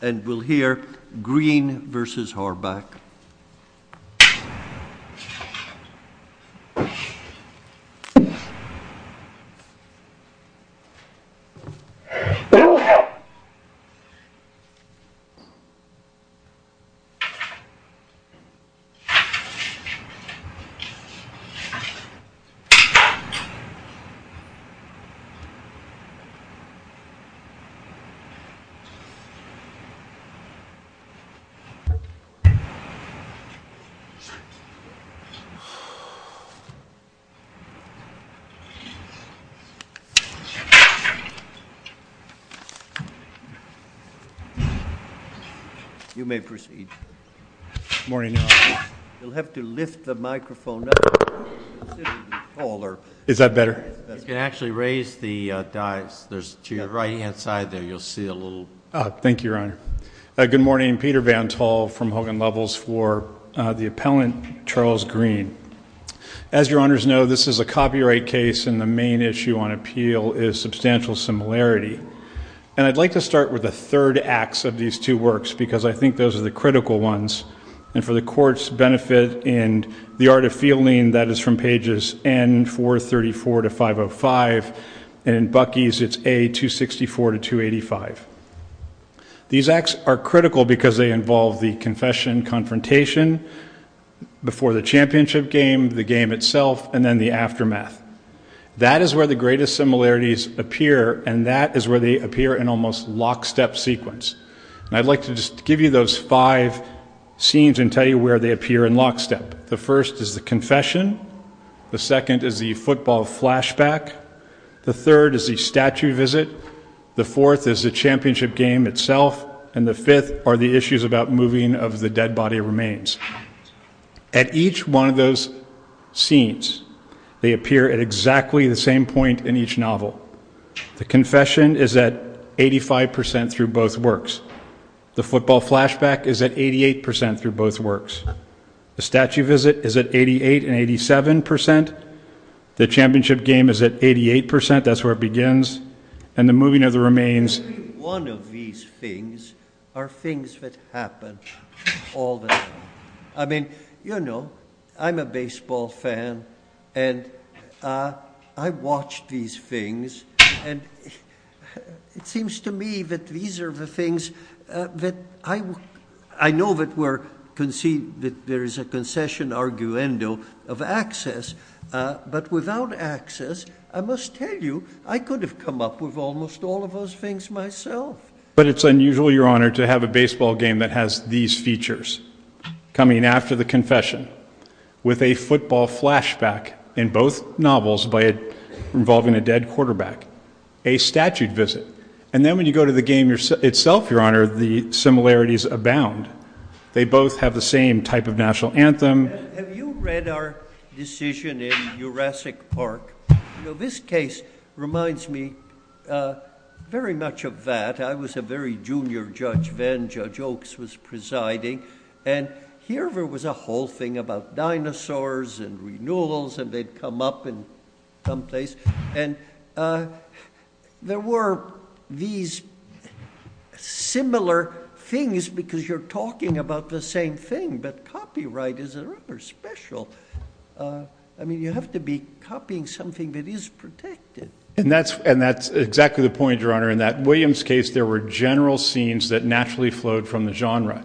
And we'll hear Green v. Harbach. You may proceed. Morning. You'll have to lift the microphone up. Is that better? You can actually raise the dice. To your right-hand side there, you'll see a little. Thank you, Your Honor. Good morning. Peter Vantol from Hogan Levels for the appellant, Charles Green. As Your Honors know, this is a copyright case, and the main issue on appeal is substantial similarity. And I'd like to start with the third acts of these two works because I think those are the critical ones. And for the Court's benefit in the Art of Fielding, that is from pages N434 to 505, and in Buckey's it's A264 to 285. These acts are critical because they involve the confession, confrontation, before the championship game, the game itself, and then the aftermath. That is where the greatest similarities appear, and that is where they appear in almost lockstep sequence. And I'd like to just give you those five scenes and tell you where they appear in lockstep. The first is the confession. The second is the football flashback. The third is the statue visit. The fourth is the championship game itself, and the fifth are the issues about moving of the dead body remains. At each one of those scenes, they appear at exactly the same point in each novel. The confession is at 85% through both works. The football flashback is at 88% through both works. The statue visit is at 88 and 87%. The championship game is at 88%. That's where it begins. And the moving of the remains. Every one of these things are things that happen all the time. I mean, you know, I'm a baseball fan, and I watch these things, and it seems to me that these are the things that I know that there is a concession arguendo of access. But without access, I must tell you, I could have come up with almost all of those things myself. But it's unusual, Your Honor, to have a baseball game that has these features. Coming after the confession with a football flashback in both novels involving a dead quarterback, a statute visit, and then when you go to the game itself, Your Honor, the similarities abound. They both have the same type of national anthem. Have you read our decision in Jurassic Park? You know, this case reminds me very much of that. I was a very junior judge then. Judge Oaks was presiding. And here there was a whole thing about dinosaurs and renewals, and they'd come up in some place. And there were these similar things because you're talking about the same thing, but copyright is a rather special. I mean, you have to be copying something that is protected. And that's exactly the point, Your Honor, in that in Williams' case there were general scenes that naturally flowed from the genre.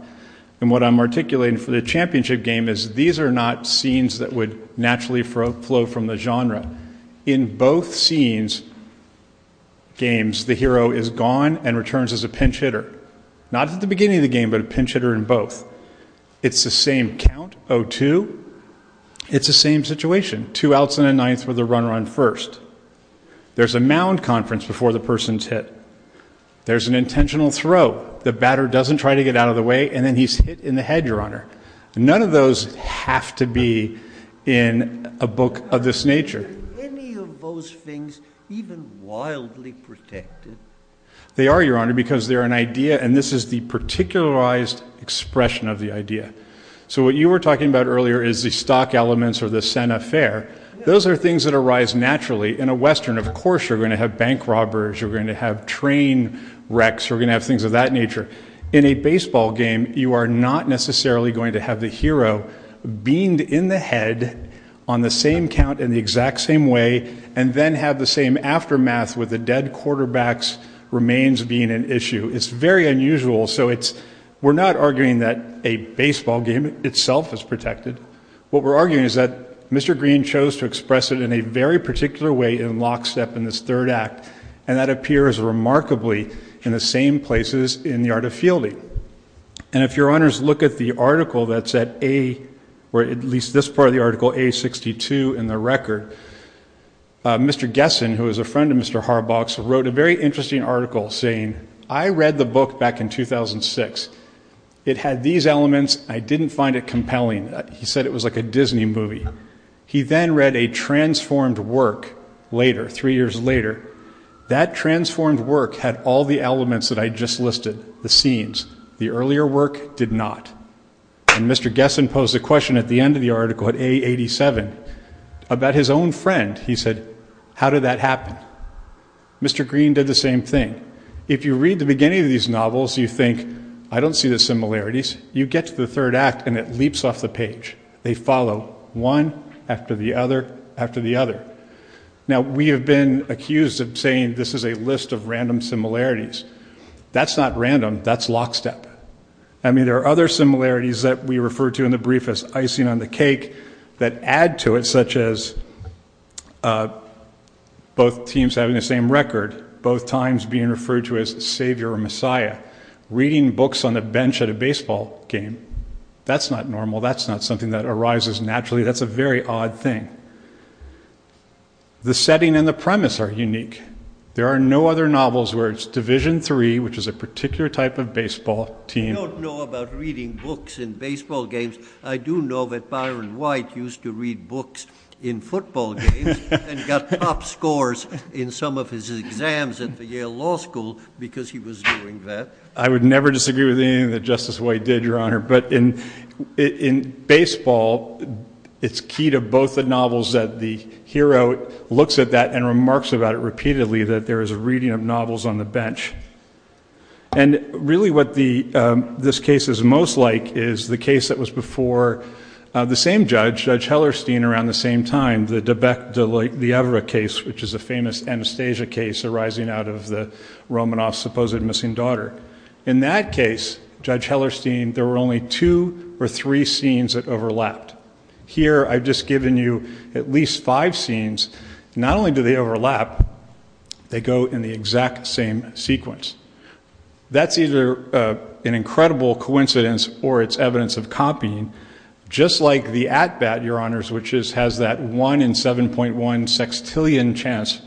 And what I'm articulating for the championship game is these are not scenes that would naturally flow from the genre. In both scenes, games, the hero is gone and returns as a pinch hitter. Not at the beginning of the game, but a pinch hitter in both. It's the same count, 0-2. It's the same situation. Two outs and a ninth for the run-run first. There's a mound conference before the person's hit. There's an intentional throw. The batter doesn't try to get out of the way, and then he's hit in the head, Your Honor. None of those have to be in a book of this nature. Are any of those things even wildly protected? They are, Your Honor, because they're an idea, and this is the particularized expression of the idea. So what you were talking about earlier is the stock elements or the Santa Fe. Those are things that arise naturally. In a Western, of course, you're going to have bank robbers. You're going to have train wrecks. You're going to have things of that nature. In a baseball game, you are not necessarily going to have the hero beamed in the head on the same count in the exact same way and then have the same aftermath with the dead quarterback's remains being an issue. It's very unusual. We're not arguing that a baseball game itself is protected. What we're arguing is that Mr. Green chose to express it in a very particular way in lockstep in this third act, and that appears remarkably in the same places in the art of fielding. And if Your Honors look at the article that's at A, or at least this part of the article, A62 in the record, Mr. Gessen, who is a friend of Mr. Harbaugh's, wrote a very interesting article saying, I read the book back in 2006. It had these elements. I didn't find it compelling. He said it was like a Disney movie. He then read a transformed work later, three years later. That transformed work had all the elements that I just listed, the scenes. The earlier work did not. And Mr. Gessen posed a question at the end of the article at A87 about his own friend. He said, how did that happen? Mr. Green did the same thing. If you read the beginning of these novels, you think, I don't see the similarities. You get to the third act, and it leaps off the page. They follow one after the other after the other. Now, we have been accused of saying this is a list of random similarities. That's not random. That's lockstep. I mean, there are other similarities that we refer to in the brief as icing on the cake that add to it, such as both teams having the same record, both times being referred to as Savior or Messiah. Reading books on a bench at a baseball game, that's not normal. That's not something that arises naturally. That's a very odd thing. The setting and the premise are unique. There are no other novels where it's Division III, which is a particular type of baseball team. I don't know about reading books in baseball games. I do know that Byron White used to read books in football games and got top scores in some of his exams at the Yale Law School because he was doing that. I would never disagree with anything that Justice White did, Your Honor. But in baseball, it's key to both the novels that the hero looks at that and remarks about it repeatedly, that there is a reading of novels on the bench. And really what this case is most like is the case that was before the same judge, Judge Hellerstein, around the same time, the de Becque de l'Evre case, which is a famous Anastasia case arising out of Romanoff's supposed missing daughter. In that case, Judge Hellerstein, there were only two or three scenes that overlapped. Here I've just given you at least five scenes. Not only do they overlap, they go in the exact same sequence. That's either an incredible coincidence or it's evidence of copying, just like The At Bat, Your Honors, which has that one in 7.1 sextillion chance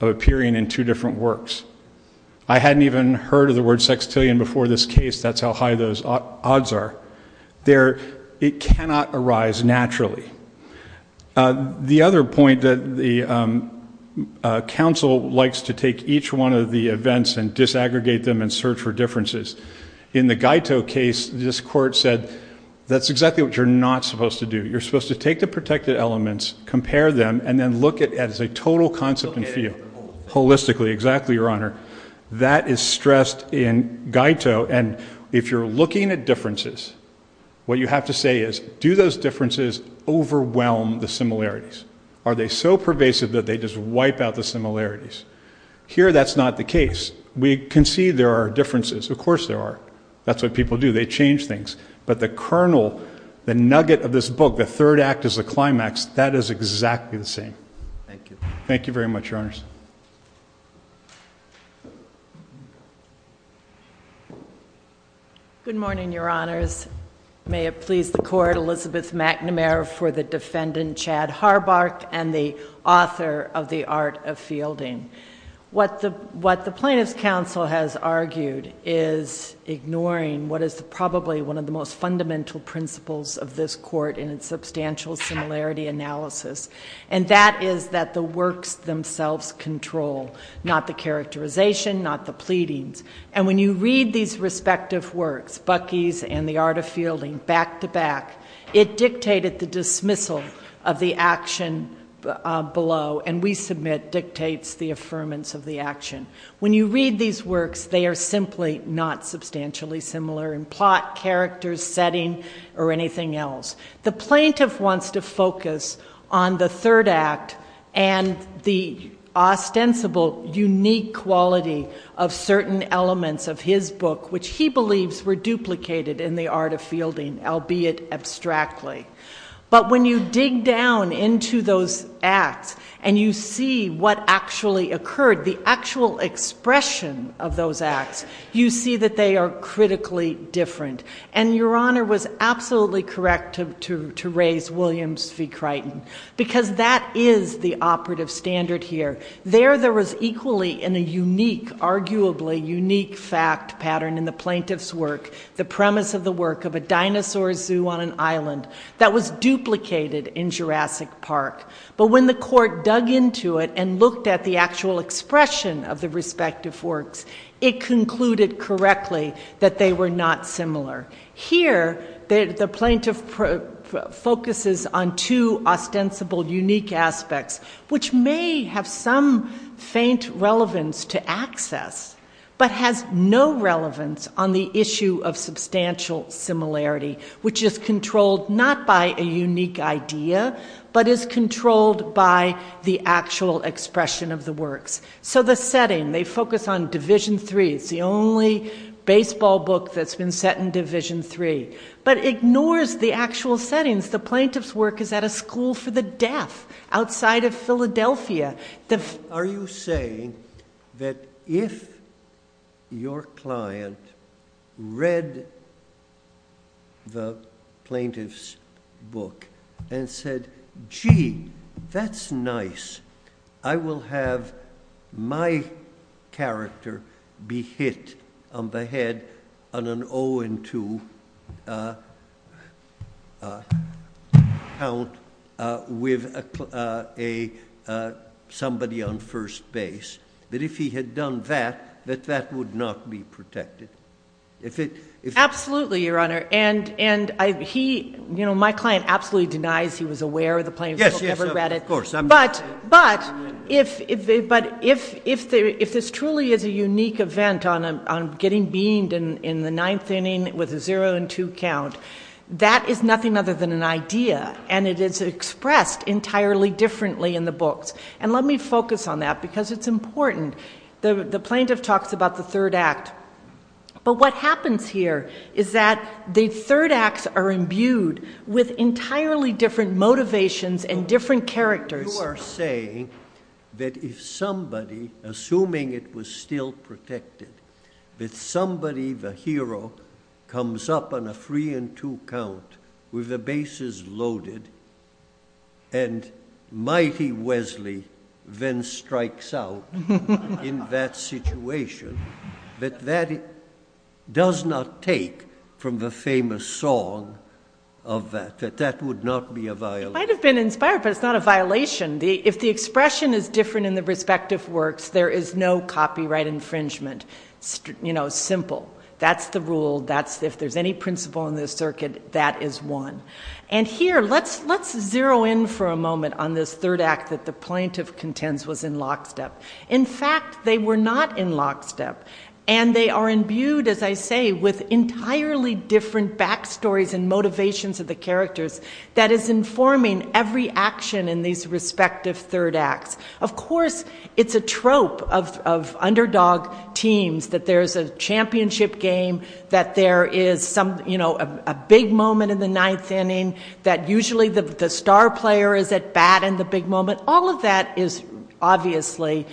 of appearing in two different works. I hadn't even heard of the word sextillion before this case. That's how high those odds are. It cannot arise naturally. The other point that the counsel likes to take each one of the events and disaggregate them and search for differences. In the Guiteau case, this court said, that's exactly what you're not supposed to do. You're supposed to take the protected elements, compare them, and then look at it as a total concept and feel. Holistically, exactly, Your Honor. That is stressed in Guiteau. If you're looking at differences, what you have to say is, do those differences overwhelm the similarities? Are they so pervasive that they just wipe out the similarities? Here that's not the case. We can see there are differences. Of course there are. That's what people do. They change things. But the kernel, the nugget of this book, the third act is the climax. That is exactly the same. Thank you. Thank you very much, Your Honors. Good morning, Your Honors. May it please the Court, Elizabeth McNamara for the defendant, Chad Harbark, and the author of The Art of Fielding. What the plaintiff's counsel has argued is ignoring what is probably one of the most fundamental principles of this Court in its substantial similarity analysis, and that is that the works themselves control, not the characterization, not the pleadings. And when you read these respective works, Bucky's and The Art of Fielding, back to back, it dictated the dismissal of the action below, and we submit dictates the affirmance of the action. When you read these works, they are simply not substantially similar in plot, characters, setting, or anything else. The plaintiff wants to focus on the third act and the ostensible unique quality of certain elements of his book, which he believes were duplicated in The Art of Fielding, albeit abstractly. But when you dig down into those acts and you see what actually occurred, the actual expression of those acts, you see that they are critically different. And Your Honor was absolutely correct to raise Williams v. Crichton, because that is the operative standard here. There, there was equally in a unique, arguably unique fact pattern in the plaintiff's work, the premise of the work of a dinosaur zoo on an island that was duplicated in Jurassic Park. But when the court dug into it and looked at the actual expression of the respective works, it concluded correctly that they were not similar. Here, the plaintiff focuses on two ostensible unique aspects, which may have some faint relevance to access, but has no relevance on the issue of substantial similarity, which is controlled not by a unique idea, but is controlled by the actual expression of the works. So the setting, they focus on Division III. It's the only baseball book that's been set in Division III, but ignores the actual settings. The plaintiff's work is at a school for the deaf outside of Philadelphia. Are you saying that if your client read the plaintiff's book and said, gee, that's nice, I will have my character be hit on the head on an 0 and 2 count with somebody on first base, that if he had done that, that that would not be protected? Absolutely, Your Honor. And my client absolutely denies he was aware of the plaintiff's book, never read it. Yes, of course. But if this truly is a unique event on getting beamed in the ninth inning with a 0 and 2 count, that is nothing other than an idea, and it is expressed entirely differently in the books. And let me focus on that, because it's important. The plaintiff talks about the third act. But what happens here is that the third acts are imbued with entirely different motivations and different characters. You are saying that if somebody, assuming it was still protected, that somebody, the hero, comes up on a 3 and 2 count with the bases loaded, and mighty Wesley then strikes out in that situation, that that does not take from the famous song of that, that that would not be a violation? It might have been inspired, but it's not a violation. If the expression is different in the respective works, there is no copyright infringement. You know, simple. That's the rule. If there's any principle in this circuit, that is one. And here, let's zero in for a moment on this third act that the plaintiff contends was in lockstep. In fact, they were not in lockstep. And they are imbued, as I say, with entirely different backstories and motivations of the characters that is informing every action in these respective third acts. Of course, it's a trope of underdog teams, that there's a championship game, that there is a big moment in the ninth inning, that usually the star player is at bat in the big moment. All of that is obviously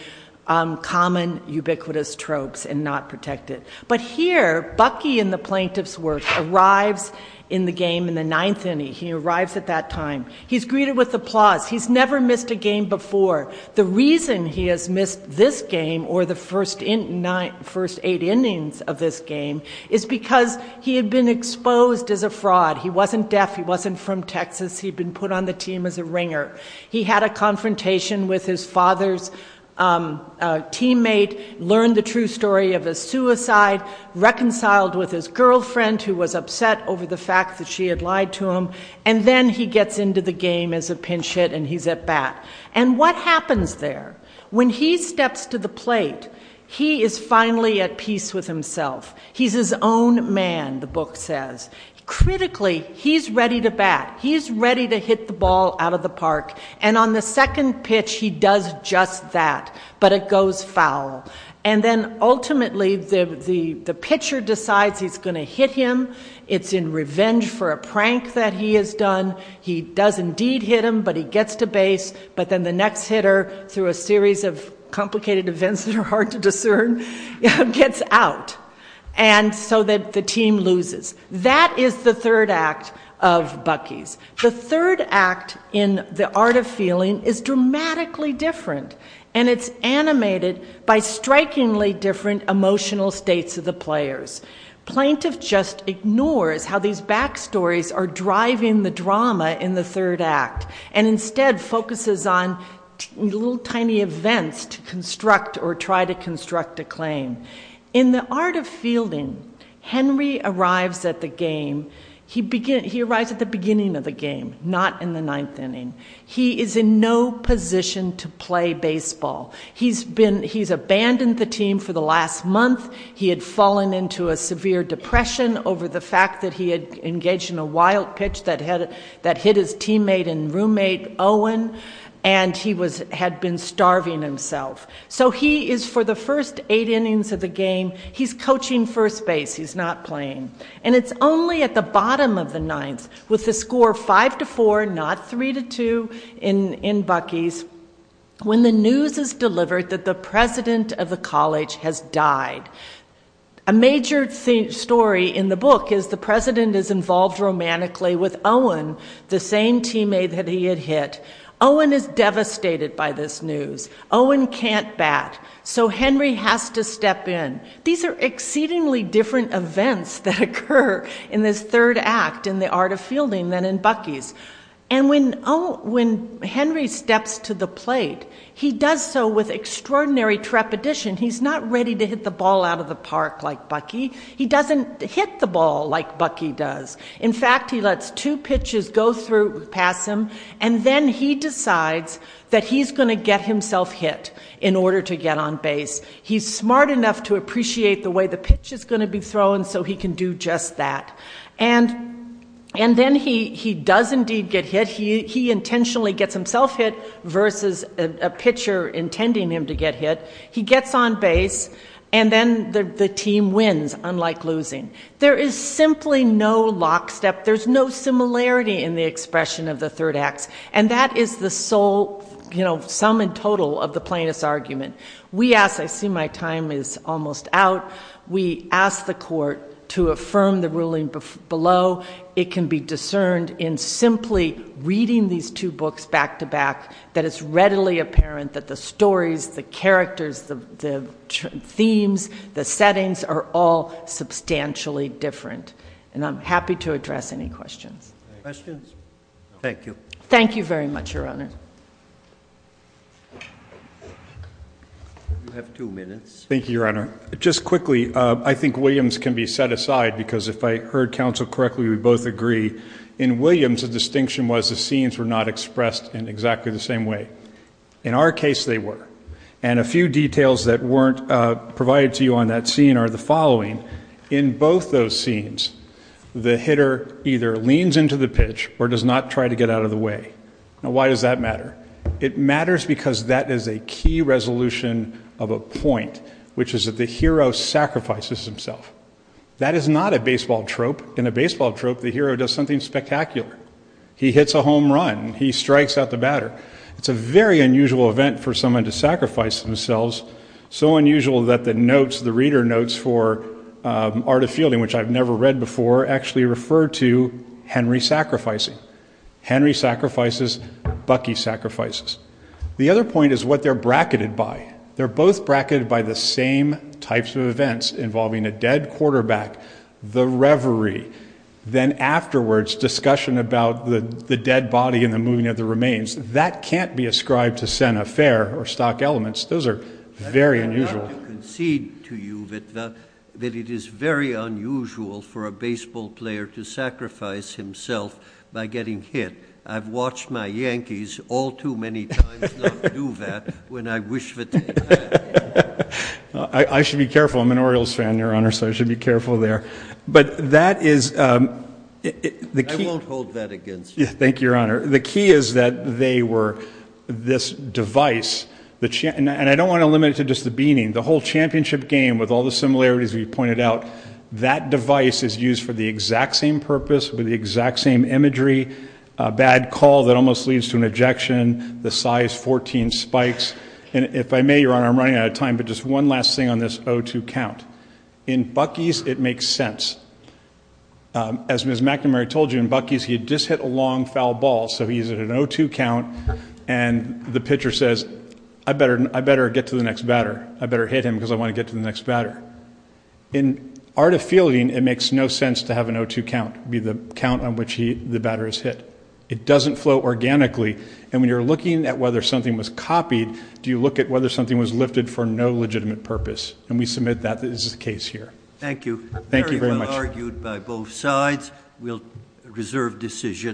common, ubiquitous tropes and not protected. But here, Bucky in the plaintiff's work arrives in the game in the ninth inning. He arrives at that time. He's greeted with applause. He's never missed a game before. The reason he has missed this game or the first eight innings of this game is because he had been exposed as a fraud. He wasn't deaf. He wasn't from Texas. He had been put on the team as a ringer. He had a confrontation with his father's teammate, learned the true story of his suicide, reconciled with his girlfriend who was upset over the fact that she had lied to him, and then he gets into the game as a pinch hit and he's at bat. And what happens there? When he steps to the plate, he is finally at peace with himself. He's his own man, the book says. Critically, he's ready to bat. He's ready to hit the ball out of the park. And on the second pitch, he does just that, but it goes foul. And then ultimately, the pitcher decides he's going to hit him. It's in revenge for a prank that he has done. He does indeed hit him, but he gets to base. But then the next hitter, through a series of complicated events that are hard to discern, gets out. And so the team loses. That is the third act of Bucky's. The third act in The Art of Feeling is dramatically different, and it's animated by strikingly different emotional states of the players. Plaintiff just ignores how these backstories are driving the drama in the third act and instead focuses on little tiny events to construct or try to construct a claim. In The Art of Fielding, Henry arrives at the beginning of the game, not in the ninth inning. He is in no position to play baseball. He's abandoned the team for the last month. He had fallen into a severe depression over the fact that he had engaged in a wild pitch that hit his teammate and roommate, Owen, and he had been starving himself. So he is, for the first eight innings of the game, he's coaching first base. He's not playing. And it's only at the bottom of the ninth, with the score 5-4, not 3-2 in Bucky's, when the news is delivered that the president of the college has died. A major story in the book is the president is involved romantically with Owen, the same teammate that he had hit. Owen is devastated by this news. Owen can't bat, so Henry has to step in. These are exceedingly different events that occur in this third act in The Art of Fielding than in Bucky's. And when Henry steps to the plate, he does so with extraordinary trepidation. He's not ready to hit the ball out of the park like Bucky. He doesn't hit the ball like Bucky does. In fact, he lets two pitches go through, pass him, and then he decides that he's going to get himself hit in order to get on base. He's smart enough to appreciate the way the pitch is going to be thrown so he can do just that. And then he does indeed get hit. He intentionally gets himself hit versus a pitcher intending him to get hit. He gets on base, and then the team wins, unlike losing. There is simply no lockstep. There's no similarity in the expression of the third acts, and that is the sole sum and total of the plaintiff's argument. I see my time is almost out. We ask the court to affirm the ruling below. It can be discerned in simply reading these two books back to back that it's readily apparent that the stories, the characters, the themes, the settings are all substantially different. And I'm happy to address any questions. Questions? Thank you. Thank you very much, Your Honor. You have two minutes. Thank you, Your Honor. Just quickly, I think Williams can be set aside because if I heard counsel correctly, we both agree. In Williams, the distinction was the scenes were not expressed in exactly the same way. In our case, they were. And a few details that weren't provided to you on that scene are the following. In both those scenes, the hitter either leans into the pitch or does not try to get out of the way. Now, why does that matter? It matters because that is a key resolution of a point, which is that the hero sacrifices himself. That is not a baseball trope. In a baseball trope, the hero does something spectacular. He hits a home run. He strikes out the batter. It's a very unusual event for someone to sacrifice themselves, so unusual that the notes, the reader notes for Art of Fielding, which I've never read before, actually refer to Henry sacrificing. Henry sacrifices. Bucky sacrifices. The other point is what they're bracketed by. They're both bracketed by the same types of events involving a dead quarterback, the reverie, then afterwards discussion about the dead body and the moving of the remains. That can't be ascribed to Santa Fe or stock elements. Those are very unusual. I want to concede to you that it is very unusual for a baseball player to sacrifice himself by getting hit. I've watched my Yankees all too many times not do that when I wish that they had. I should be careful. I'm an Orioles fan, Your Honor, so I should be careful there. But that is the key. I won't hold that against you. Thank you, Your Honor. The key is that they were this device, and I don't want to limit it to just the beaning. The whole championship game, with all the similarities we've pointed out, that device is used for the exact same purpose, with the exact same imagery, a bad call that almost leads to an ejection, the size 14 spikes. And if I may, Your Honor, I'm running out of time, but just one last thing on this 0-2 count. In Bucky's, it makes sense. As Ms. McNamara told you, in Bucky's, he had just hit a long, foul ball, so he's at an 0-2 count, and the pitcher says, I better get to the next batter. I better hit him because I want to get to the next batter. In art of fielding, it makes no sense to have an 0-2 count be the count on which the batter is hit. It doesn't flow organically, and when you're looking at whether something was copied, do you look at whether something was lifted for no legitimate purpose? And we submit that this is the case here. Thank you. Thank you very much. Very well argued by both sides. We'll reserve decision.